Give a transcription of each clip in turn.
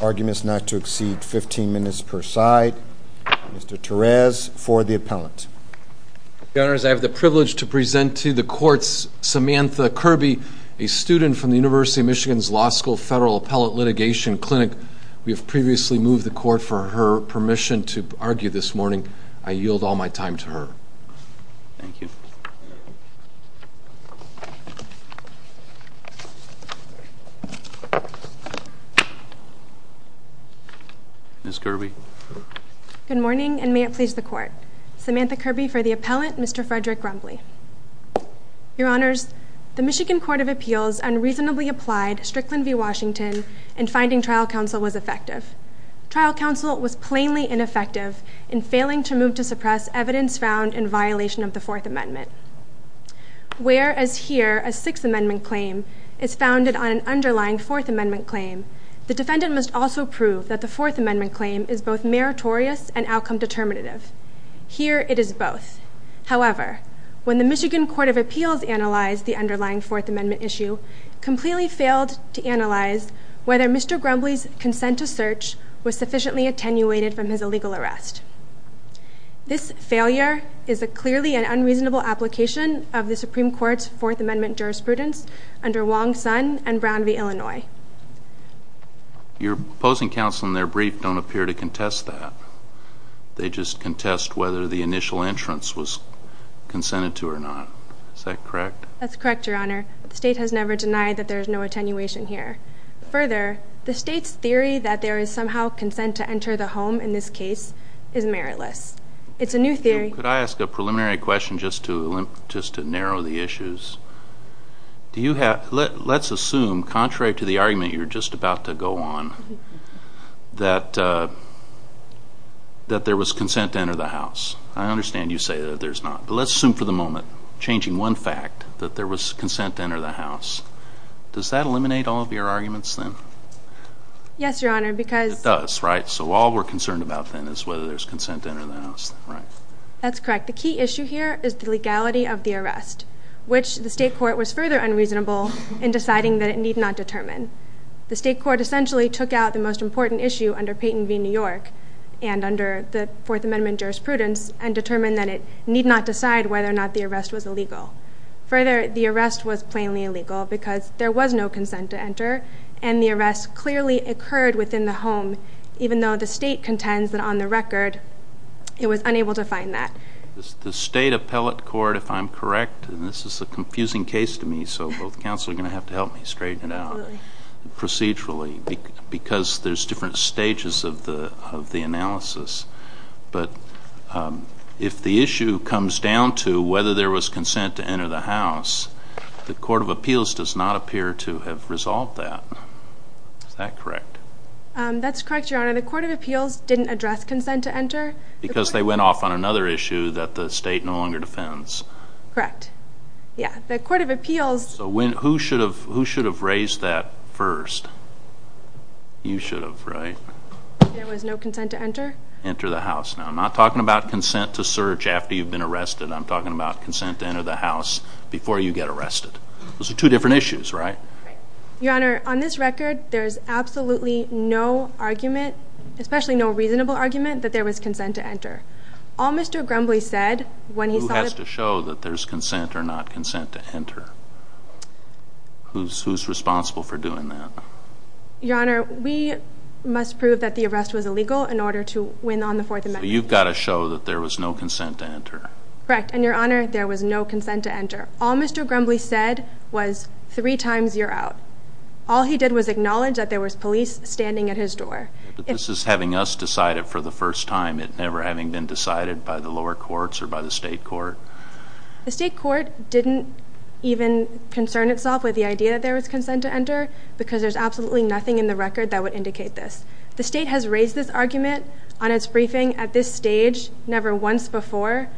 Arguments not to exceed 15 minutes per side. Mr. Therese for the appellant. Your Honors, I have the privilege to present to the courts Samantha Kirby, a student from the University of Michigan's Law School Federal Appellate Litigation Clinic. We have previously moved the court for her permission to present. With your permission to argue this morning, I yield all my time to her. Thank you. Ms. Kirby. Good morning, and may it please the Court. Samantha Kirby for the appellant, Mr. Frederick Grumbley. Your Honors, the Michigan Court of Appeals unreasonably applied Strickland v. Washington in finding trial counsel was effective. Trial counsel was plainly ineffective in failing to move to suppress evidence found in violation of the Fourth Amendment. Whereas here a Sixth Amendment claim is founded on an underlying Fourth Amendment claim, the defendant must also prove that the Fourth Amendment claim is both meritorious and outcome determinative. Here it is both. However, when the Michigan Court of Appeals analyzed the underlying Fourth Amendment issue, completely failed to analyze whether Mr. Grumbley's consent to search was sufficiently attenuated from his illegal arrest. This failure is clearly an unreasonable application of the Supreme Court's Fourth Amendment jurisprudence under Wong-Sun and Brown v. Illinois. Your opposing counsel in their brief don't appear to contest that. They just contest whether the initial entrance was consented to or not. Is that correct? That's correct, Your Honor. The state has never denied that there is no attenuation here. Further, the state's theory that there is somehow consent to enter the home in this case is meritless. It's a new theory. Could I ask a preliminary question just to narrow the issues? Let's assume, contrary to the argument you were just about to go on, that there was consent to enter the house. I understand you say that there's not. But let's assume for the moment, changing one fact, that there was consent to enter the house. Does that eliminate all of your arguments then? Yes, Your Honor, because— It does, right? So all we're concerned about then is whether there's consent to enter the house, right? That's correct. The key issue here is the legality of the arrest, which the state court was further unreasonable in deciding that it need not determine. The state court essentially took out the most important issue under Payton v. New York and under the Fourth Amendment jurisprudence and determined that it need not decide whether or not the arrest was illegal. Further, the arrest was plainly illegal because there was no consent to enter, and the arrest clearly occurred within the home, even though the state contends that on the record it was unable to find that. The state appellate court, if I'm correct, and this is a confusing case to me, so both counsel are going to have to help me straighten it out procedurally, because there's different stages of the analysis. But if the issue comes down to whether there was consent to enter the house, the court of appeals does not appear to have resolved that. Is that correct? That's correct, Your Honor. The court of appeals didn't address consent to enter. Because they went off on another issue that the state no longer defends. Correct. Yeah, the court of appeals— Who should have raised that first? You should have, right? There was no consent to enter? Enter the house. Now, I'm not talking about consent to search after you've been arrested. I'm talking about consent to enter the house before you get arrested. Those are two different issues, right? Your Honor, on this record, there is absolutely no argument, especially no reasonable argument, that there was consent to enter. All Mr. Grumbly said when he saw the— that there's consent or not consent to enter. Who's responsible for doing that? Your Honor, we must prove that the arrest was illegal in order to win on the Fourth Amendment. So you've got to show that there was no consent to enter. Correct. And, Your Honor, there was no consent to enter. All Mr. Grumbly said was, three times, you're out. All he did was acknowledge that there was police standing at his door. But this is having us decide it for the first time, it never having been decided by the lower courts or by the state court. The state court didn't even concern itself with the idea that there was consent to enter because there's absolutely nothing in the record that would indicate this. The state has raised this argument on its briefing at this stage never once before,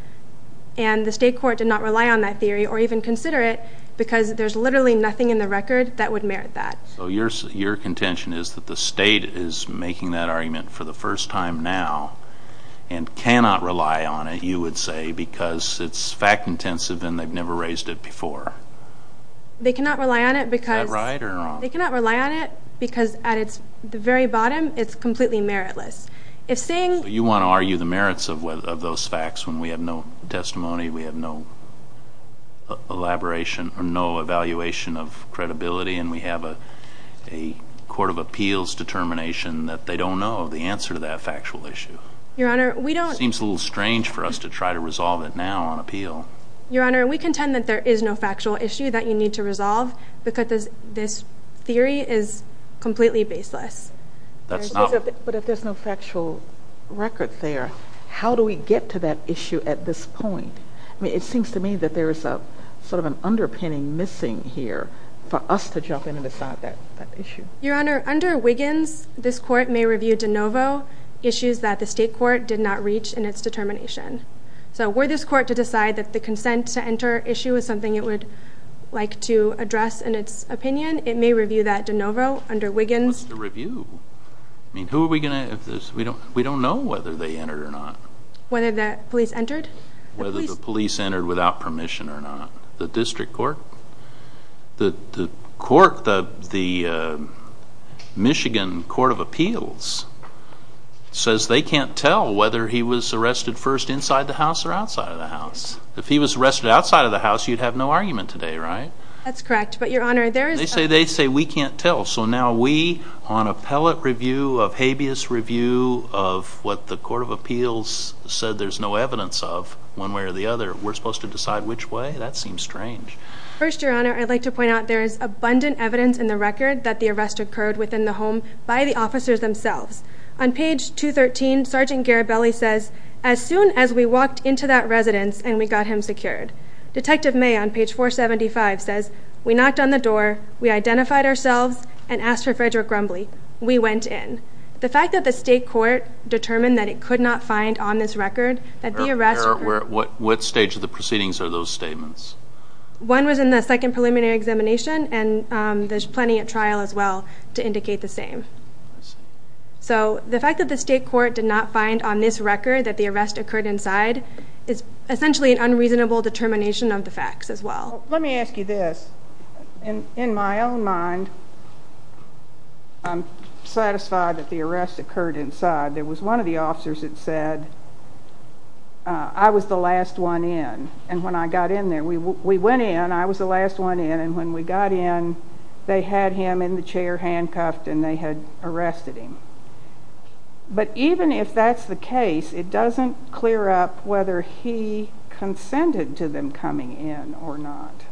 and the state court did not rely on that theory or even consider it because there's literally nothing in the record that would merit that. So your contention is that the state is making that argument for the first time now and cannot rely on it, you would say, because it's fact-intensive and they've never raised it before. They cannot rely on it because at its very bottom, it's completely meritless. You want to argue the merits of those facts when we have no testimony, we have no elaboration or no evaluation of credibility, and we have a court of appeals determination that they don't know the answer to that factual issue. It seems a little strange for us to try to resolve it now on appeal. Your Honor, we contend that there is no factual issue that you need to resolve because this theory is completely baseless. But if there's no factual record there, how do we get to that issue at this point? It seems to me that there is sort of an underpinning missing here for us to jump in and decide that issue. Your Honor, under Wiggins, this court may review de novo issues that the state court did not reach in its determination. So were this court to decide that the consent to enter issue is something it would like to address in its opinion, it may review that de novo under Wiggins. What's the review? I mean, who are we going to? We don't know whether they entered or not. Whether the police entered? Whether the police entered without permission or not. The district court? The court, the Michigan Court of Appeals, says they can't tell whether he was arrested first inside the house or outside of the house. If he was arrested outside of the house, you'd have no argument today, right? That's correct. They say we can't tell. So now we, on appellate review, of habeas review, of what the court of appeals said there's no evidence of one way or the other, we're supposed to decide which way? That seems strange. First, Your Honor, I'd like to point out there is abundant evidence in the record that the arrest occurred within the home by the officers themselves. On page 213, Sergeant Garibelli says, as soon as we walked into that residence and we got him secured. Detective May on page 475 says, we knocked on the door, we identified ourselves, and asked for Frederick Grumbly. We went in. The fact that the state court determined that it could not find on this record that the arrest occurred. What stage of the proceedings are those statements? One was in the second preliminary examination, and there's plenty at trial as well to indicate the same. So the fact that the state court did not find on this record that the arrest occurred inside is essentially an unreasonable determination of the facts as well. Let me ask you this. In my own mind, I'm satisfied that the arrest occurred inside. There was one of the officers that said, I was the last one in, and when I got in there. We went in, I was the last one in, and when we got in, they had him in the chair handcuffed, and they had arrested him. But even if that's the case, it doesn't clear up whether he consented to them coming in or not.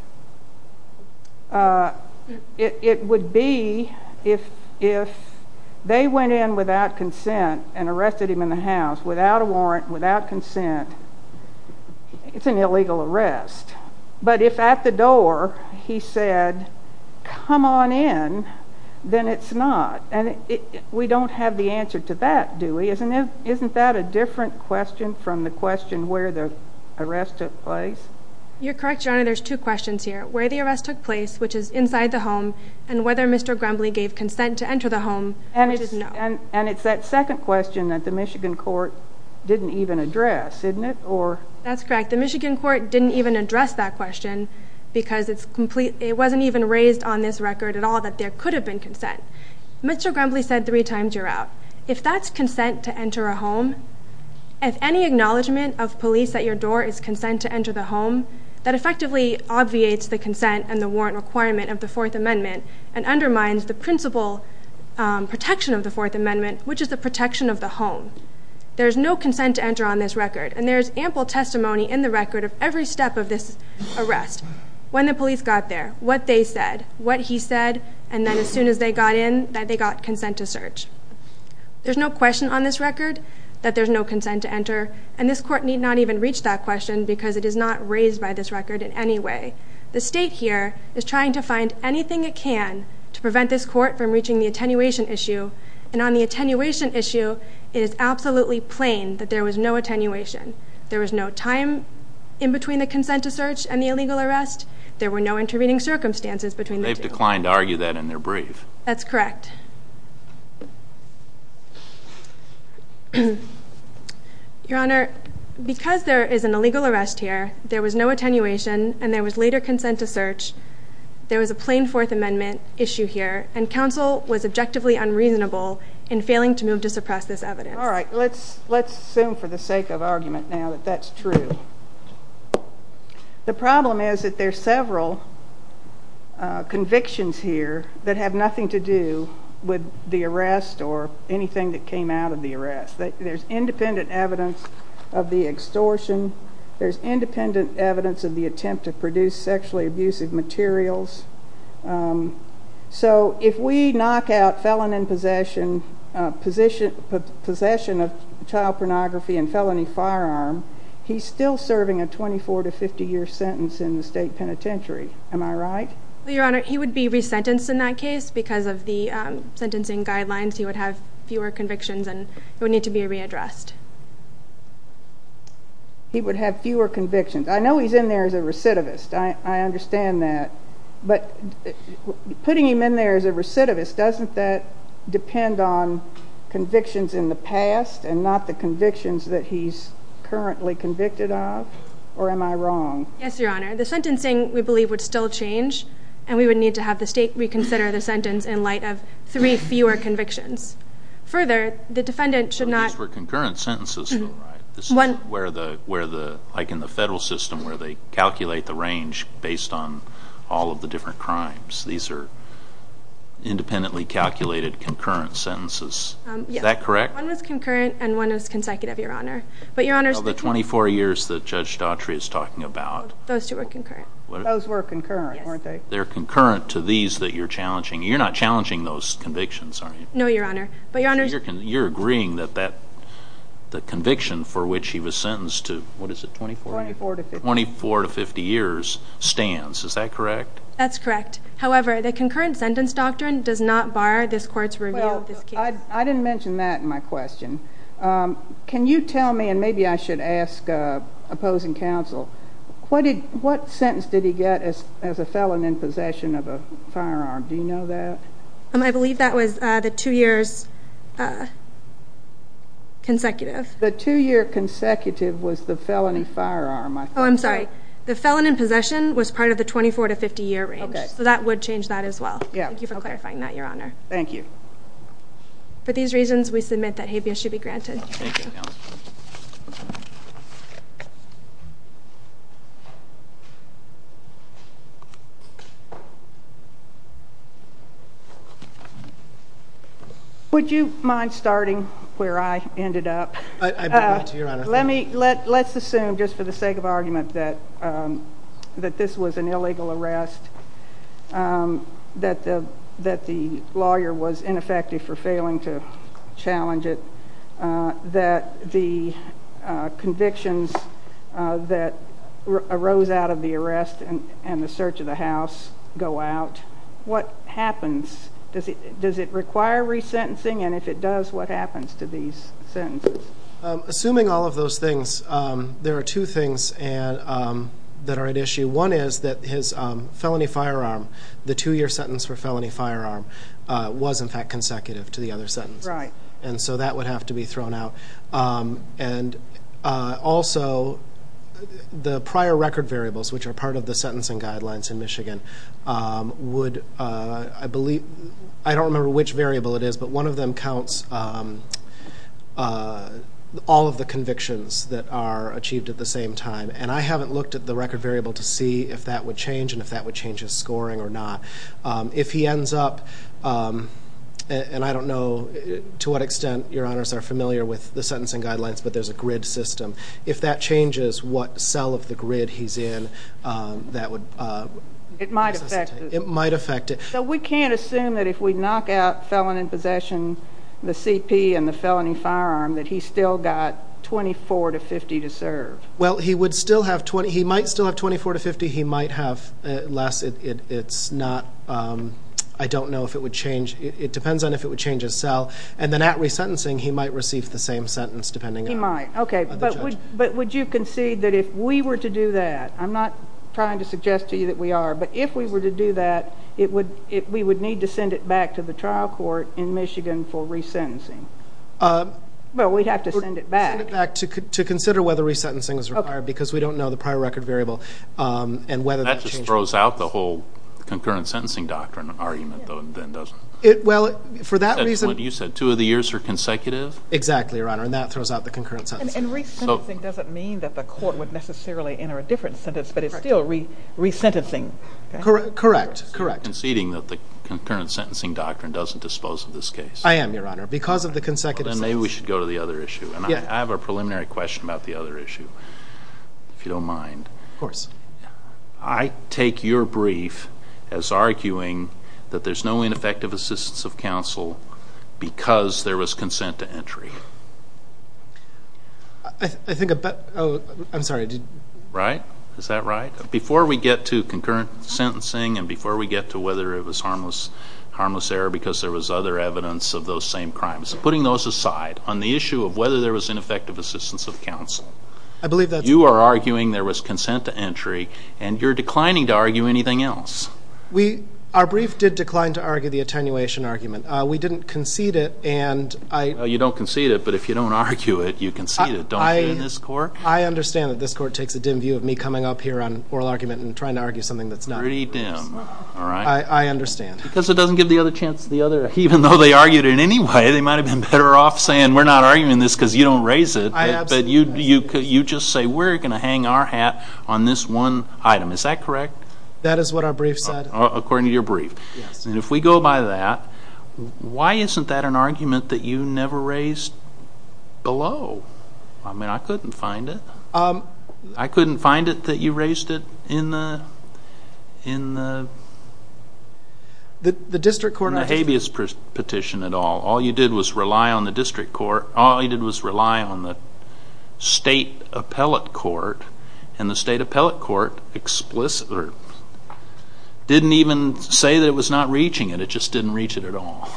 It would be if they went in without consent and arrested him in the house without a warrant, without consent, it's an illegal arrest. But if at the door he said, come on in, then it's not. We don't have the answer to that, do we? Isn't that a different question from the question where the arrest took place? You're correct, Your Honor. There's two questions here, where the arrest took place, which is inside the home, and whether Mr. Grumbly gave consent to enter the home, which is no. And it's that second question that the Michigan court didn't even address, isn't it? That's correct. The Michigan court didn't even address that question because it wasn't even raised on this record at all that there could have been consent. Mr. Grumbly said three times, you're out. If that's consent to enter a home, if any acknowledgement of police at your door is consent to enter the home, that effectively obviates the consent and the warrant requirement of the Fourth Amendment and undermines the principal protection of the Fourth Amendment, which is the protection of the home. There's no consent to enter on this record, and there's ample testimony in the record of every step of this arrest. When the police got there, what they said, what he said, and then as soon as they got in, that they got consent to search. There's no question on this record that there's no consent to enter, and this court need not even reach that question because it is not raised by this record in any way. The state here is trying to find anything it can to prevent this court from reaching the attenuation issue, and on the attenuation issue, it is absolutely plain that there was no attenuation. There was no time in between the consent to search and the illegal arrest. There were no intervening circumstances between the two. They've declined to argue that in their brief. That's correct. Your Honor, because there is an illegal arrest here, there was no attenuation, and there was later consent to search. There was a plain Fourth Amendment issue here, and counsel was objectively unreasonable in failing to move to suppress this evidence. All right, let's assume for the sake of argument now that that's true. The problem is that there's several convictions here that have nothing to do with the arrest or anything that came out of the arrest. There's independent evidence of the extortion. There's independent evidence of the attempt to produce sexually abusive materials. So if we knock out felon in possession of child pornography and felony firearm, he's still serving a 24- to 50-year sentence in the state penitentiary. Am I right? Your Honor, he would be resentenced in that case because of the sentencing guidelines. He would have fewer convictions, and he would need to be readdressed. He would have fewer convictions. I know he's in there as a recidivist. I understand that, but putting him in there as a recidivist, doesn't that depend on convictions in the past and not the convictions that he's currently convicted of, or am I wrong? Yes, Your Honor. The sentencing, we believe, would still change, and we would need to have the state reconsider the sentence in light of three fewer convictions. Further, the defendant should not— These were concurrent sentences, though, right? Like in the federal system where they calculate the range based on all of the different crimes. These are independently calculated concurrent sentences. Is that correct? One was concurrent and one was consecutive, Your Honor. Of the 24 years that Judge Daughtry is talking about? Those two were concurrent. Those were concurrent, weren't they? They're concurrent to these that you're challenging. You're not challenging those convictions, are you? No, Your Honor. You're agreeing that the conviction for which he was sentenced to, what is it, 24? 24 to 50. 24 to 50 years stands, is that correct? That's correct. However, the concurrent sentence doctrine does not bar this court's review of this case. I didn't mention that in my question. Can you tell me, and maybe I should ask opposing counsel, what sentence did he get as a felon in possession of a firearm? Do you know that? I believe that was the two years consecutive. The two-year consecutive was the felony firearm. Oh, I'm sorry. The felon in possession was part of the 24 to 50-year range, so that would change that as well. Thank you for clarifying that, Your Honor. Thank you. For these reasons, we submit that habeas should be granted. Thank you, counsel. Would you mind starting where I ended up? I believe to, Your Honor. Let's assume, just for the sake of argument, that this was an illegal arrest, that the lawyer was ineffective for failing to challenge it, that the convictions that arose out of the arrest and the search of the house go out. What happens? Does it require resentencing, and if it does, what happens to these sentences? Assuming all of those things, there are two things that are at issue. One is that his felony firearm, the two-year sentence for felony firearm, was, in fact, consecutive to the other sentence. Right. And so that would have to be thrown out. And also, the prior record variables, which are part of the sentencing guidelines in Michigan, would, I believe, I don't remember which variable it is, but one of them counts all of the convictions that are achieved at the same time. And I haven't looked at the record variable to see if that would change and if that would change his scoring or not. If he ends up, and I don't know to what extent, Your Honors, are familiar with the sentencing guidelines, but there's a grid system, if that changes what cell of the grid he's in, that would... It might affect it. It might affect it. So we can't assume that if we knock out felon in possession, the CP and the felony firearm, that he's still got 24 to 50 to serve. Well, he would still have 20... He might still have 24 to 50. He might have less. It's not... I don't know if it would change. It depends on if it would change his cell. And then at resentencing, he might receive the same sentence depending on the judge. He might. Okay, but would you concede that if we were to do that, I'm not trying to suggest to you that we are, but if we were to do that, we would need to send it back to the trial court in Michigan for resentencing. Well, we'd have to send it back. We'd have to send it back to consider whether resentencing is required because we don't know the prior record variable and whether that changes... That just throws out the whole concurrent sentencing doctrine argument, though, and then doesn't it? Well, for that reason... That's what you said, two of the years are consecutive? Exactly, Your Honor, and that throws out the concurrent sentencing. And resentencing doesn't mean that the court would necessarily enter a different sentence, but it's still resentencing. Correct. So you're conceding that the concurrent sentencing doctrine doesn't dispose of this case? I am, Your Honor, because of the consecutive sentence. Well, then maybe we should go to the other issue. I have a preliminary question about the other issue, if you don't mind. Of course. I take your brief as arguing that there's no ineffective assistance of counsel because there was consent to entry. I think about... I'm sorry. Right? Is that right? Before we get to concurrent sentencing and before we get to whether it was harmless error because there was other evidence of those same crimes, putting those aside on the issue of whether there was ineffective assistance of counsel. I believe that's... You are arguing there was consent to entry, and you're declining to argue anything else. Our brief did decline to argue the attenuation argument. We didn't concede it, and I... Well, you don't concede it, but if you don't argue it, you concede it, don't you, in this court? I understand that this court takes a dim view of me coming up here on oral argument and trying to argue something that's not... Pretty dim, all right. I understand. Because it doesn't give the other chance to the other. Even though they argued it anyway, they might have been better off saying, we're not arguing this because you don't raise it. But you just say, we're going to hang our hat on this one item. Is that correct? That is what our brief said. According to your brief. Yes. And if we go by that, why isn't that an argument that you never raised below? I mean, I couldn't find it. I couldn't find it that you raised it in the... In the district court... In the habeas petition at all. All you did was rely on the district court. All you did was rely on the state appellate court, and the state appellate court explicitly didn't even say that it was not reaching it. It just didn't reach it at all.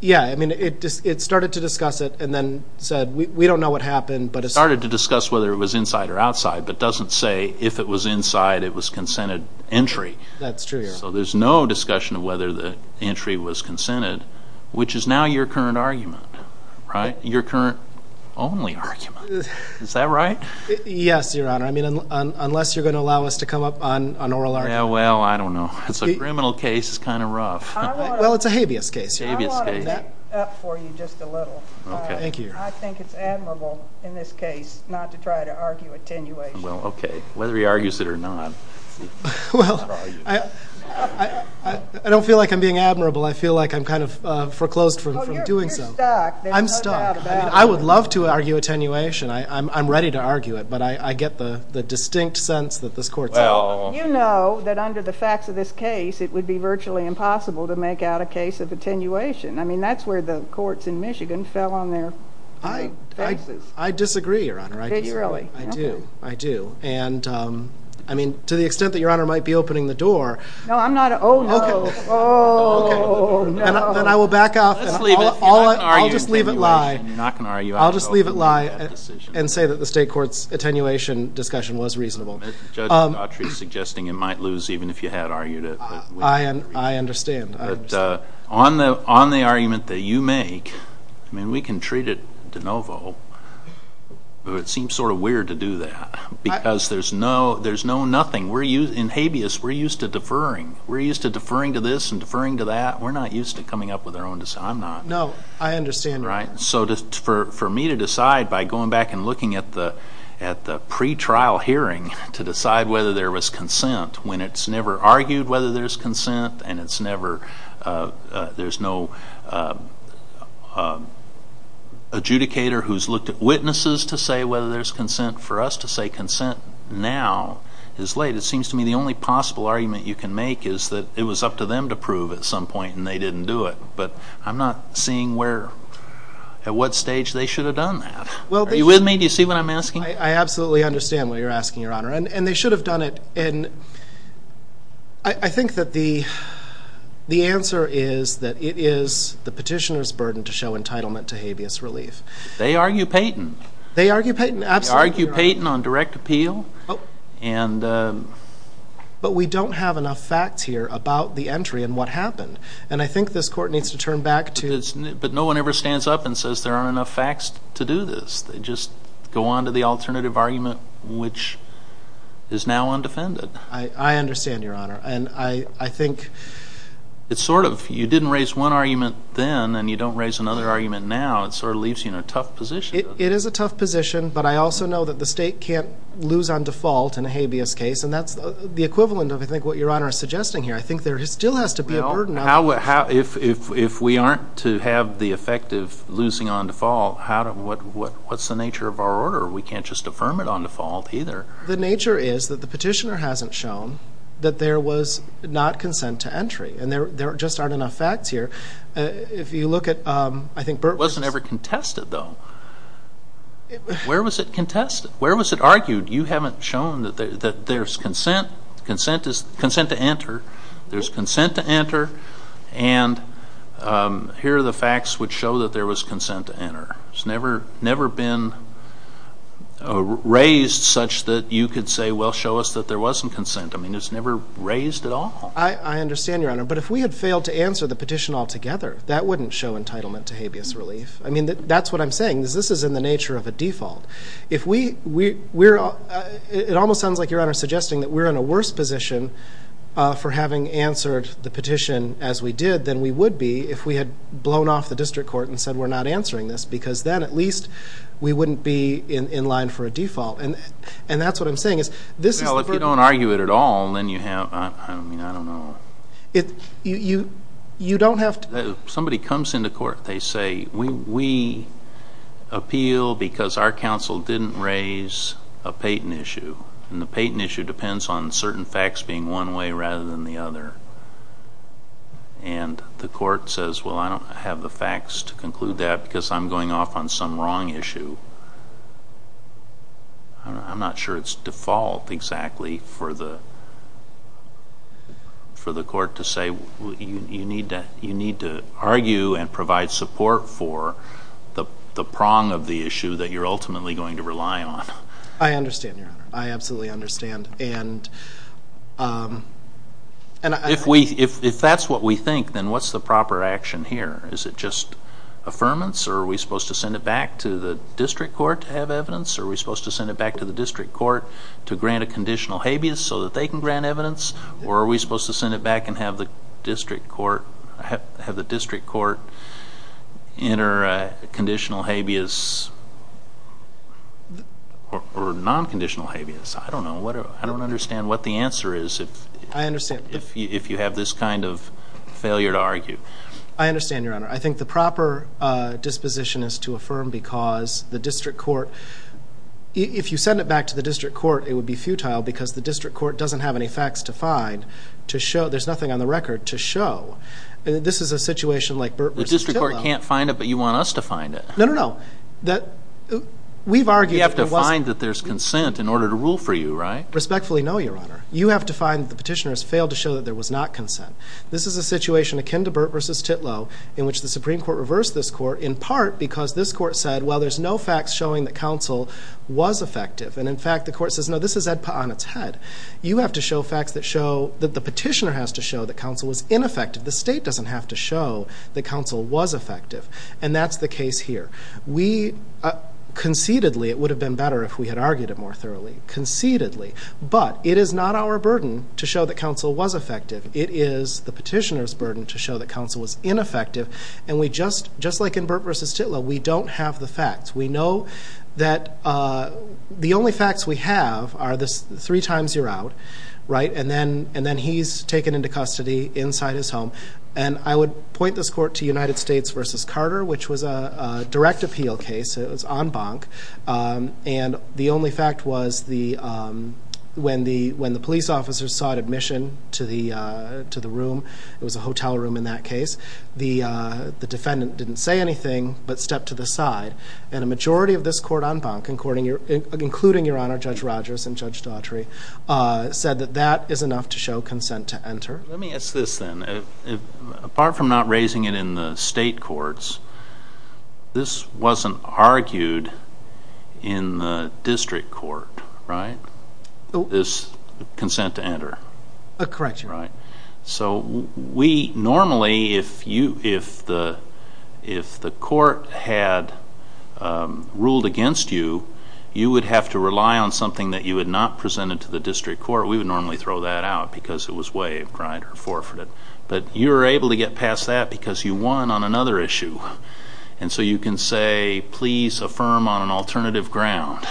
Yeah, I mean, it started to discuss it and then said, we don't know what happened. It started to discuss whether it was inside or outside, but doesn't say if it was inside, it was consented entry. That's true. So there's no discussion of whether the entry was consented, which is now your current argument, right? Your current only argument. Is that right? Yes, Your Honor. I mean, unless you're going to allow us to come up on oral argument. Yeah, well, I don't know. It's a criminal case. It's kind of rough. Well, it's a habeas case. I want to back up for you just a little. Okay. Thank you. I think it's admirable in this case not to try to argue attenuation. Well, okay. Whether he argues it or not. Well, I don't feel like I'm being admirable. I feel like I'm kind of foreclosed from doing so. You're stuck. I'm stuck. I would love to argue attenuation. I'm ready to argue it, but I get the distinct sense that this court's not. You know that under the facts of this case, it would be virtually impossible to make out a case of attenuation. I mean, that's where the courts in Michigan fell on their faces. I disagree, Your Honor. I do. I do. I mean, to the extent that Your Honor might be opening the door. No, I'm not. Oh, no. Oh, no. Okay. Then I will back off. Let's leave it. You're not going to argue attenuation. I'll just leave it lie. You're not going to argue attenuation. I'll just leave it lie and say that the state court's attenuation discussion was reasonable. Judge Dautry is suggesting it might lose even if you had argued it. I understand. I understand. But on the argument that you make, I mean, we can treat it de novo, but it seems sort of weird to do that because there's no nothing. In habeas, we're used to deferring. We're used to deferring to this and deferring to that. We're not used to coming up with our own. I'm not. No, I understand. Right? So for me to decide by going back and looking at the pretrial hearing to decide whether there was consent when it's never argued whether there's consent and there's no adjudicator who's looked at witnesses to say whether there's consent for us to say consent now is late, it seems to me the only possible argument you can make is that it was up to them to prove at some point and they didn't do it. But I'm not seeing at what stage they should have done that. Are you with me? Do you see what I'm asking? I absolutely understand what you're asking, Your Honor. And they should have done it. And I think that the answer is that it is the petitioner's burden to show entitlement to habeas relief. They argue Payton. They argue Payton. Absolutely, Your Honor. They argue Payton on direct appeal. But we don't have enough facts here about the entry and what happened. And I think this court needs to turn back to the But no one ever stands up and says there aren't enough facts to do this. They just go on to the alternative argument, which is now undefended. I understand, Your Honor. And I think it's sort of you didn't raise one argument then and you don't raise another argument now. It sort of leaves you in a tough position. It is a tough position. But I also know that the state can't lose on default in a habeas case. And that's the equivalent of, I think, what Your Honor is suggesting here. I think there still has to be a burden. If we aren't to have the effect of losing on default, what's the nature of our order? We can't just affirm it on default either. The nature is that the petitioner hasn't shown that there was not consent to entry. And there just aren't enough facts here. If you look at, I think, Burt was It wasn't ever contested, though. Where was it contested? Where was it argued? You haven't shown that there's consent to enter. There's consent to enter. And here are the facts which show that there was consent to enter. It's never been raised such that you could say, well, show us that there wasn't consent. I mean, it's never raised at all. I understand, Your Honor. But if we had failed to answer the petition altogether, that wouldn't show entitlement to habeas relief. I mean, that's what I'm saying. This is in the nature of a default. It almost sounds like, Your Honor, suggesting that we're in a worse position for having answered the petition as we did than we would be if we had blown off the district court and said we're not answering this because then at least we wouldn't be in line for a default. And that's what I'm saying. Well, if you don't argue it at all, then you have, I mean, I don't know. You don't have to Somebody comes into court. They say, we appeal because our counsel didn't raise a Payton issue, and the Payton issue depends on certain facts being one way rather than the other. And the court says, well, I don't have the facts to conclude that because I'm going off on some wrong issue. I'm not sure it's default exactly for the court to say, you need to argue and provide support for the prong of the issue that you're ultimately going to rely on. I understand, Your Honor. I absolutely understand. And I If that's what we think, then what's the proper action here? Is it just affirmance, or are we supposed to send it back to the district court to have evidence? Are we supposed to send it back to the district court to grant a conditional habeas so that they can grant evidence? Or are we supposed to send it back and have the district court enter a conditional habeas or non-conditional habeas? I don't know. I don't understand what the answer is if you have this kind of failure to argue. I understand, Your Honor. I think the proper disposition is to affirm because the district court If you send it back to the district court, it would be futile because the district court doesn't have any facts to find to show. There's nothing on the record to show. This is a situation like Burt v. Tillow. The district court can't find it, but you want us to find it. No, no, no. We've argued that there was You have to find that there's consent in order to rule for you, right? Respectfully, no, Your Honor. You have to find that the petitioner has failed to show that there was not consent. This is a situation akin to Burt v. Tillow in which the Supreme Court reversed this court in part because this court said, well, there's no facts showing that counsel was effective. And, in fact, the court says, no, this is on its head. You have to show facts that show that the petitioner has to show that counsel was ineffective. The state doesn't have to show that counsel was effective. And that's the case here. We conceitedly, it would have been better if we had argued it more thoroughly, conceitedly. But it is not our burden to show that counsel was effective. It is the petitioner's burden to show that counsel was ineffective. And we just, just like in Burt v. Tillow, we don't have the facts. We know that the only facts we have are the three times you're out, right? And then he's taken into custody inside his home. And I would point this court to United States v. Carter, which was a direct appeal case. It was en banc. And the only fact was when the police officers sought admission to the room, it was a hotel room in that case, the defendant didn't say anything but stepped to the side. And a majority of this court en banc, including Your Honor, Judge Rogers and Judge Daughtry, said that that is enough to show consent to enter. Let me ask this then. Apart from not raising it in the state courts, this wasn't argued in the district court, right, this consent to enter? Correct, Your Honor. So we normally, if the court had ruled against you, you would have to rely on something that you had not presented to the district court. We would normally throw that out because it was waived, right, or forfeited. But you were able to get past that because you won on another issue. And so you can say, please affirm on an alternative ground.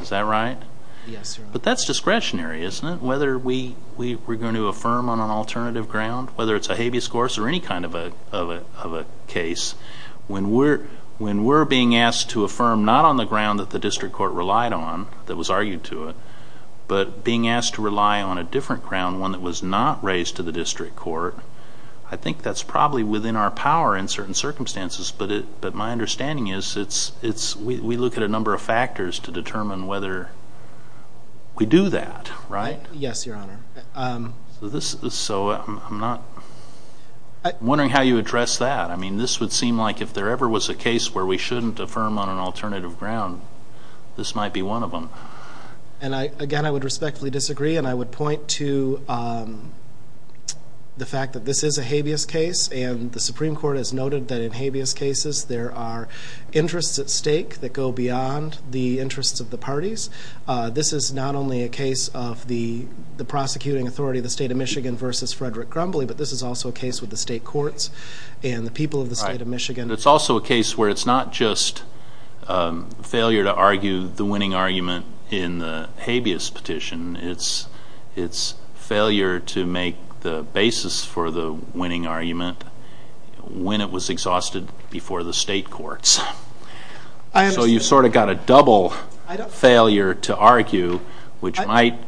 Is that right? Yes, Your Honor. But that's discretionary, isn't it? Whether we're going to affirm on an alternative ground, whether it's a habeas corpus or any kind of a case, when we're being asked to affirm not on the ground that the district court relied on, that was argued to it, but being asked to rely on a different ground, one that was not raised to the district court, I think that's probably within our power in certain circumstances. But my understanding is we look at a number of factors to determine whether we do that, right? Yes, Your Honor. So I'm wondering how you address that. I mean, this would seem like if there ever was a case where we shouldn't affirm on an alternative ground, this might be one of them. And, again, I would respectfully disagree, and I would point to the fact that this is a habeas case, and the Supreme Court has noted that in habeas cases there are interests at stake that go beyond the interests of the parties. This is not only a case of the prosecuting authority of the state of Michigan versus Frederick Grumbly, but this is also a case with the state courts and the people of the state of Michigan. And it's also a case where it's not just failure to argue the winning argument in the habeas petition, it's failure to make the basis for the winning argument when it was exhausted before the state courts. So you've sort of got a double failure to argue, which might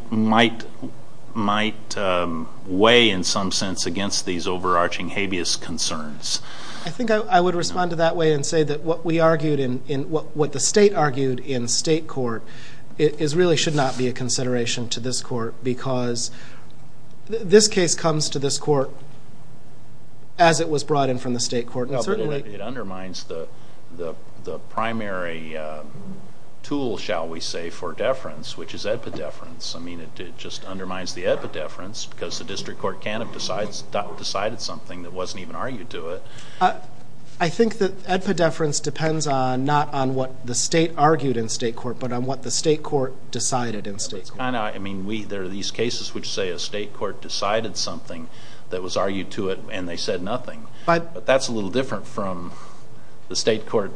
weigh in some sense against these overarching habeas concerns. I think I would respond to that way and say that what the state argued in state court really should not be a consideration to this court because this case comes to this court as it was brought in from the state court. It undermines the primary tool, shall we say, for deference, which is epideference. I mean, it just undermines the epideference because the district court can't have decided something that wasn't even argued to it. I think that epideference depends not on what the state argued in state court, but on what the state court decided in state court. I know. I mean, there are these cases which say a state court decided something that was argued to it and they said nothing. But that's a little different from the state court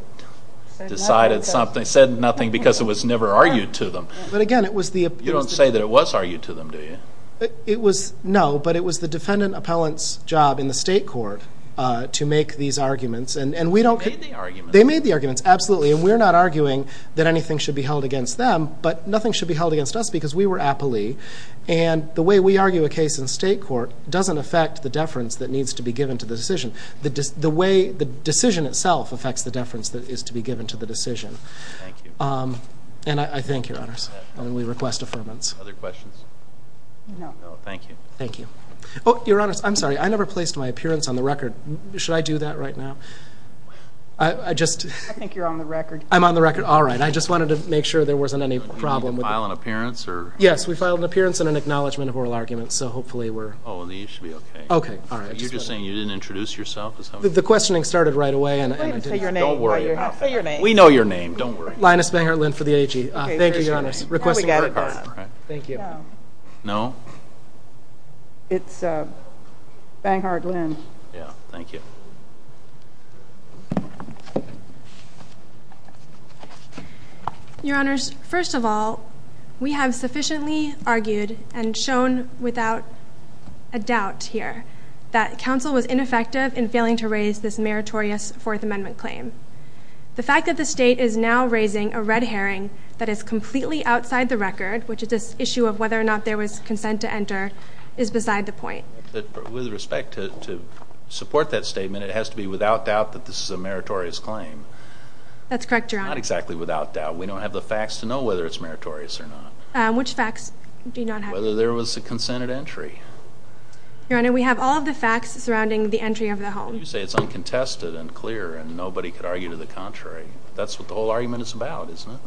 decided something, said nothing because it was never argued to them. You don't say that it was argued to them, do you? No, but it was the defendant appellant's job in the state court to make these arguments. They made the arguments. They made the arguments, absolutely, and we're not arguing that anything should be held against them, but nothing should be held against us because we were aptly. And the way we argue a case in state court doesn't affect the deference that needs to be given to the decision. The decision itself affects the deference that is to be given to the decision. Thank you. And I thank Your Honors, and we request affirmance. Other questions? No. No, thank you. Thank you. Oh, Your Honors, I'm sorry. I never placed my appearance on the record. Should I do that right now? I just. I think you're on the record. I'm on the record. All right. I just wanted to make sure there wasn't any problem. Did you file an appearance? Yes, we filed an appearance and an acknowledgment of oral arguments, so hopefully we're. Oh, then you should be okay. Okay, all right. You're just saying you didn't introduce yourself? The questioning started right away and I didn't. Don't worry about it. Say your name. We know your name. Don't worry. Linus Banghardt-Linn for the AG. Thank you, Your Honors. Requesting record. No. No? It's Banghardt-Linn. Yeah, thank you. Your Honors, first of all, we have sufficiently argued and shown without a doubt here that counsel was ineffective in failing to raise this meritorious Fourth Amendment claim. The fact that the state is now raising a red herring that is completely outside the record, which is this issue of whether or not there was consent to enter, is beside the point. With respect to support that statement, it has to be without doubt that this is a meritorious claim. That's correct, Your Honor. Not exactly without doubt. We don't have the facts to know whether it's meritorious or not. Which facts do you not have? Whether there was a consent at entry. Your Honor, we have all of the facts surrounding the entry of the home. Why don't you say it's uncontested and clear and nobody could argue to the contrary? That's what the whole argument is about, isn't it?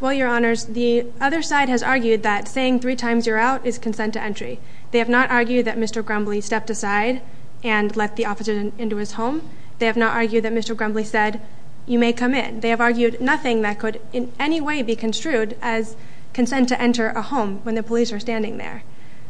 Well, Your Honors, the other side has argued that saying three times you're out is consent to entry. They have not argued that Mr. Grumbly stepped aside and let the officer into his home. They have not argued that Mr. Grumbly said, you may come in. They have argued nothing that could in any way be construed as consent to enter a home when the police are standing there.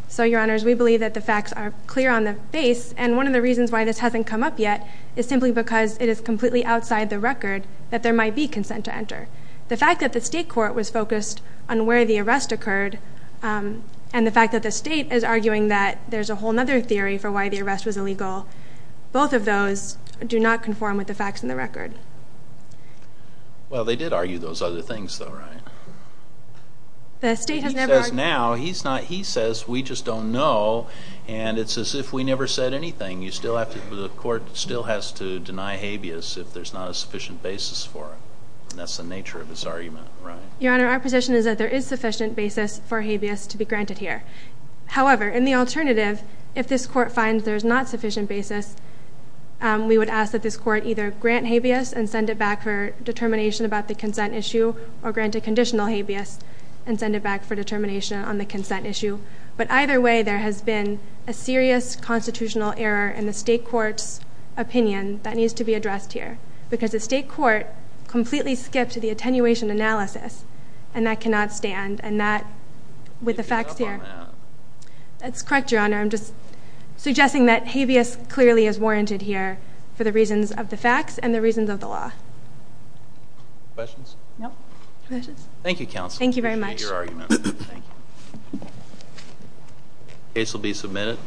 So, Your Honors, we believe that the facts are clear on the base, and one of the reasons why this hasn't come up yet is simply because it is completely outside the record that there might be consent to enter. The fact that the state court was focused on where the arrest occurred and the fact that the state is arguing that there's a whole other theory for why the arrest was illegal, both of those do not conform with the facts in the record. Well, they did argue those other things, though, right? He says now, he says we just don't know, and it's as if we never said anything. The court still has to deny habeas if there's not a sufficient basis for it, and that's the nature of his argument, right? Your Honor, our position is that there is sufficient basis for habeas to be granted here. However, in the alternative, if this court finds there's not sufficient basis, we would ask that this court either grant habeas and send it back for determination about the consent issue or grant a conditional habeas and send it back for determination on the consent issue. But either way, there has been a serious constitutional error in the state court's opinion. That needs to be addressed here, because the state court completely skipped the attenuation analysis, and that cannot stand, and that, with the facts here- that habeas clearly is warranted here for the reasons of the facts and the reasons of the law. Questions? No. Questions? Thank you, counsel. Thank you very much. Appreciate your argument. Thank you. Case will be submitted.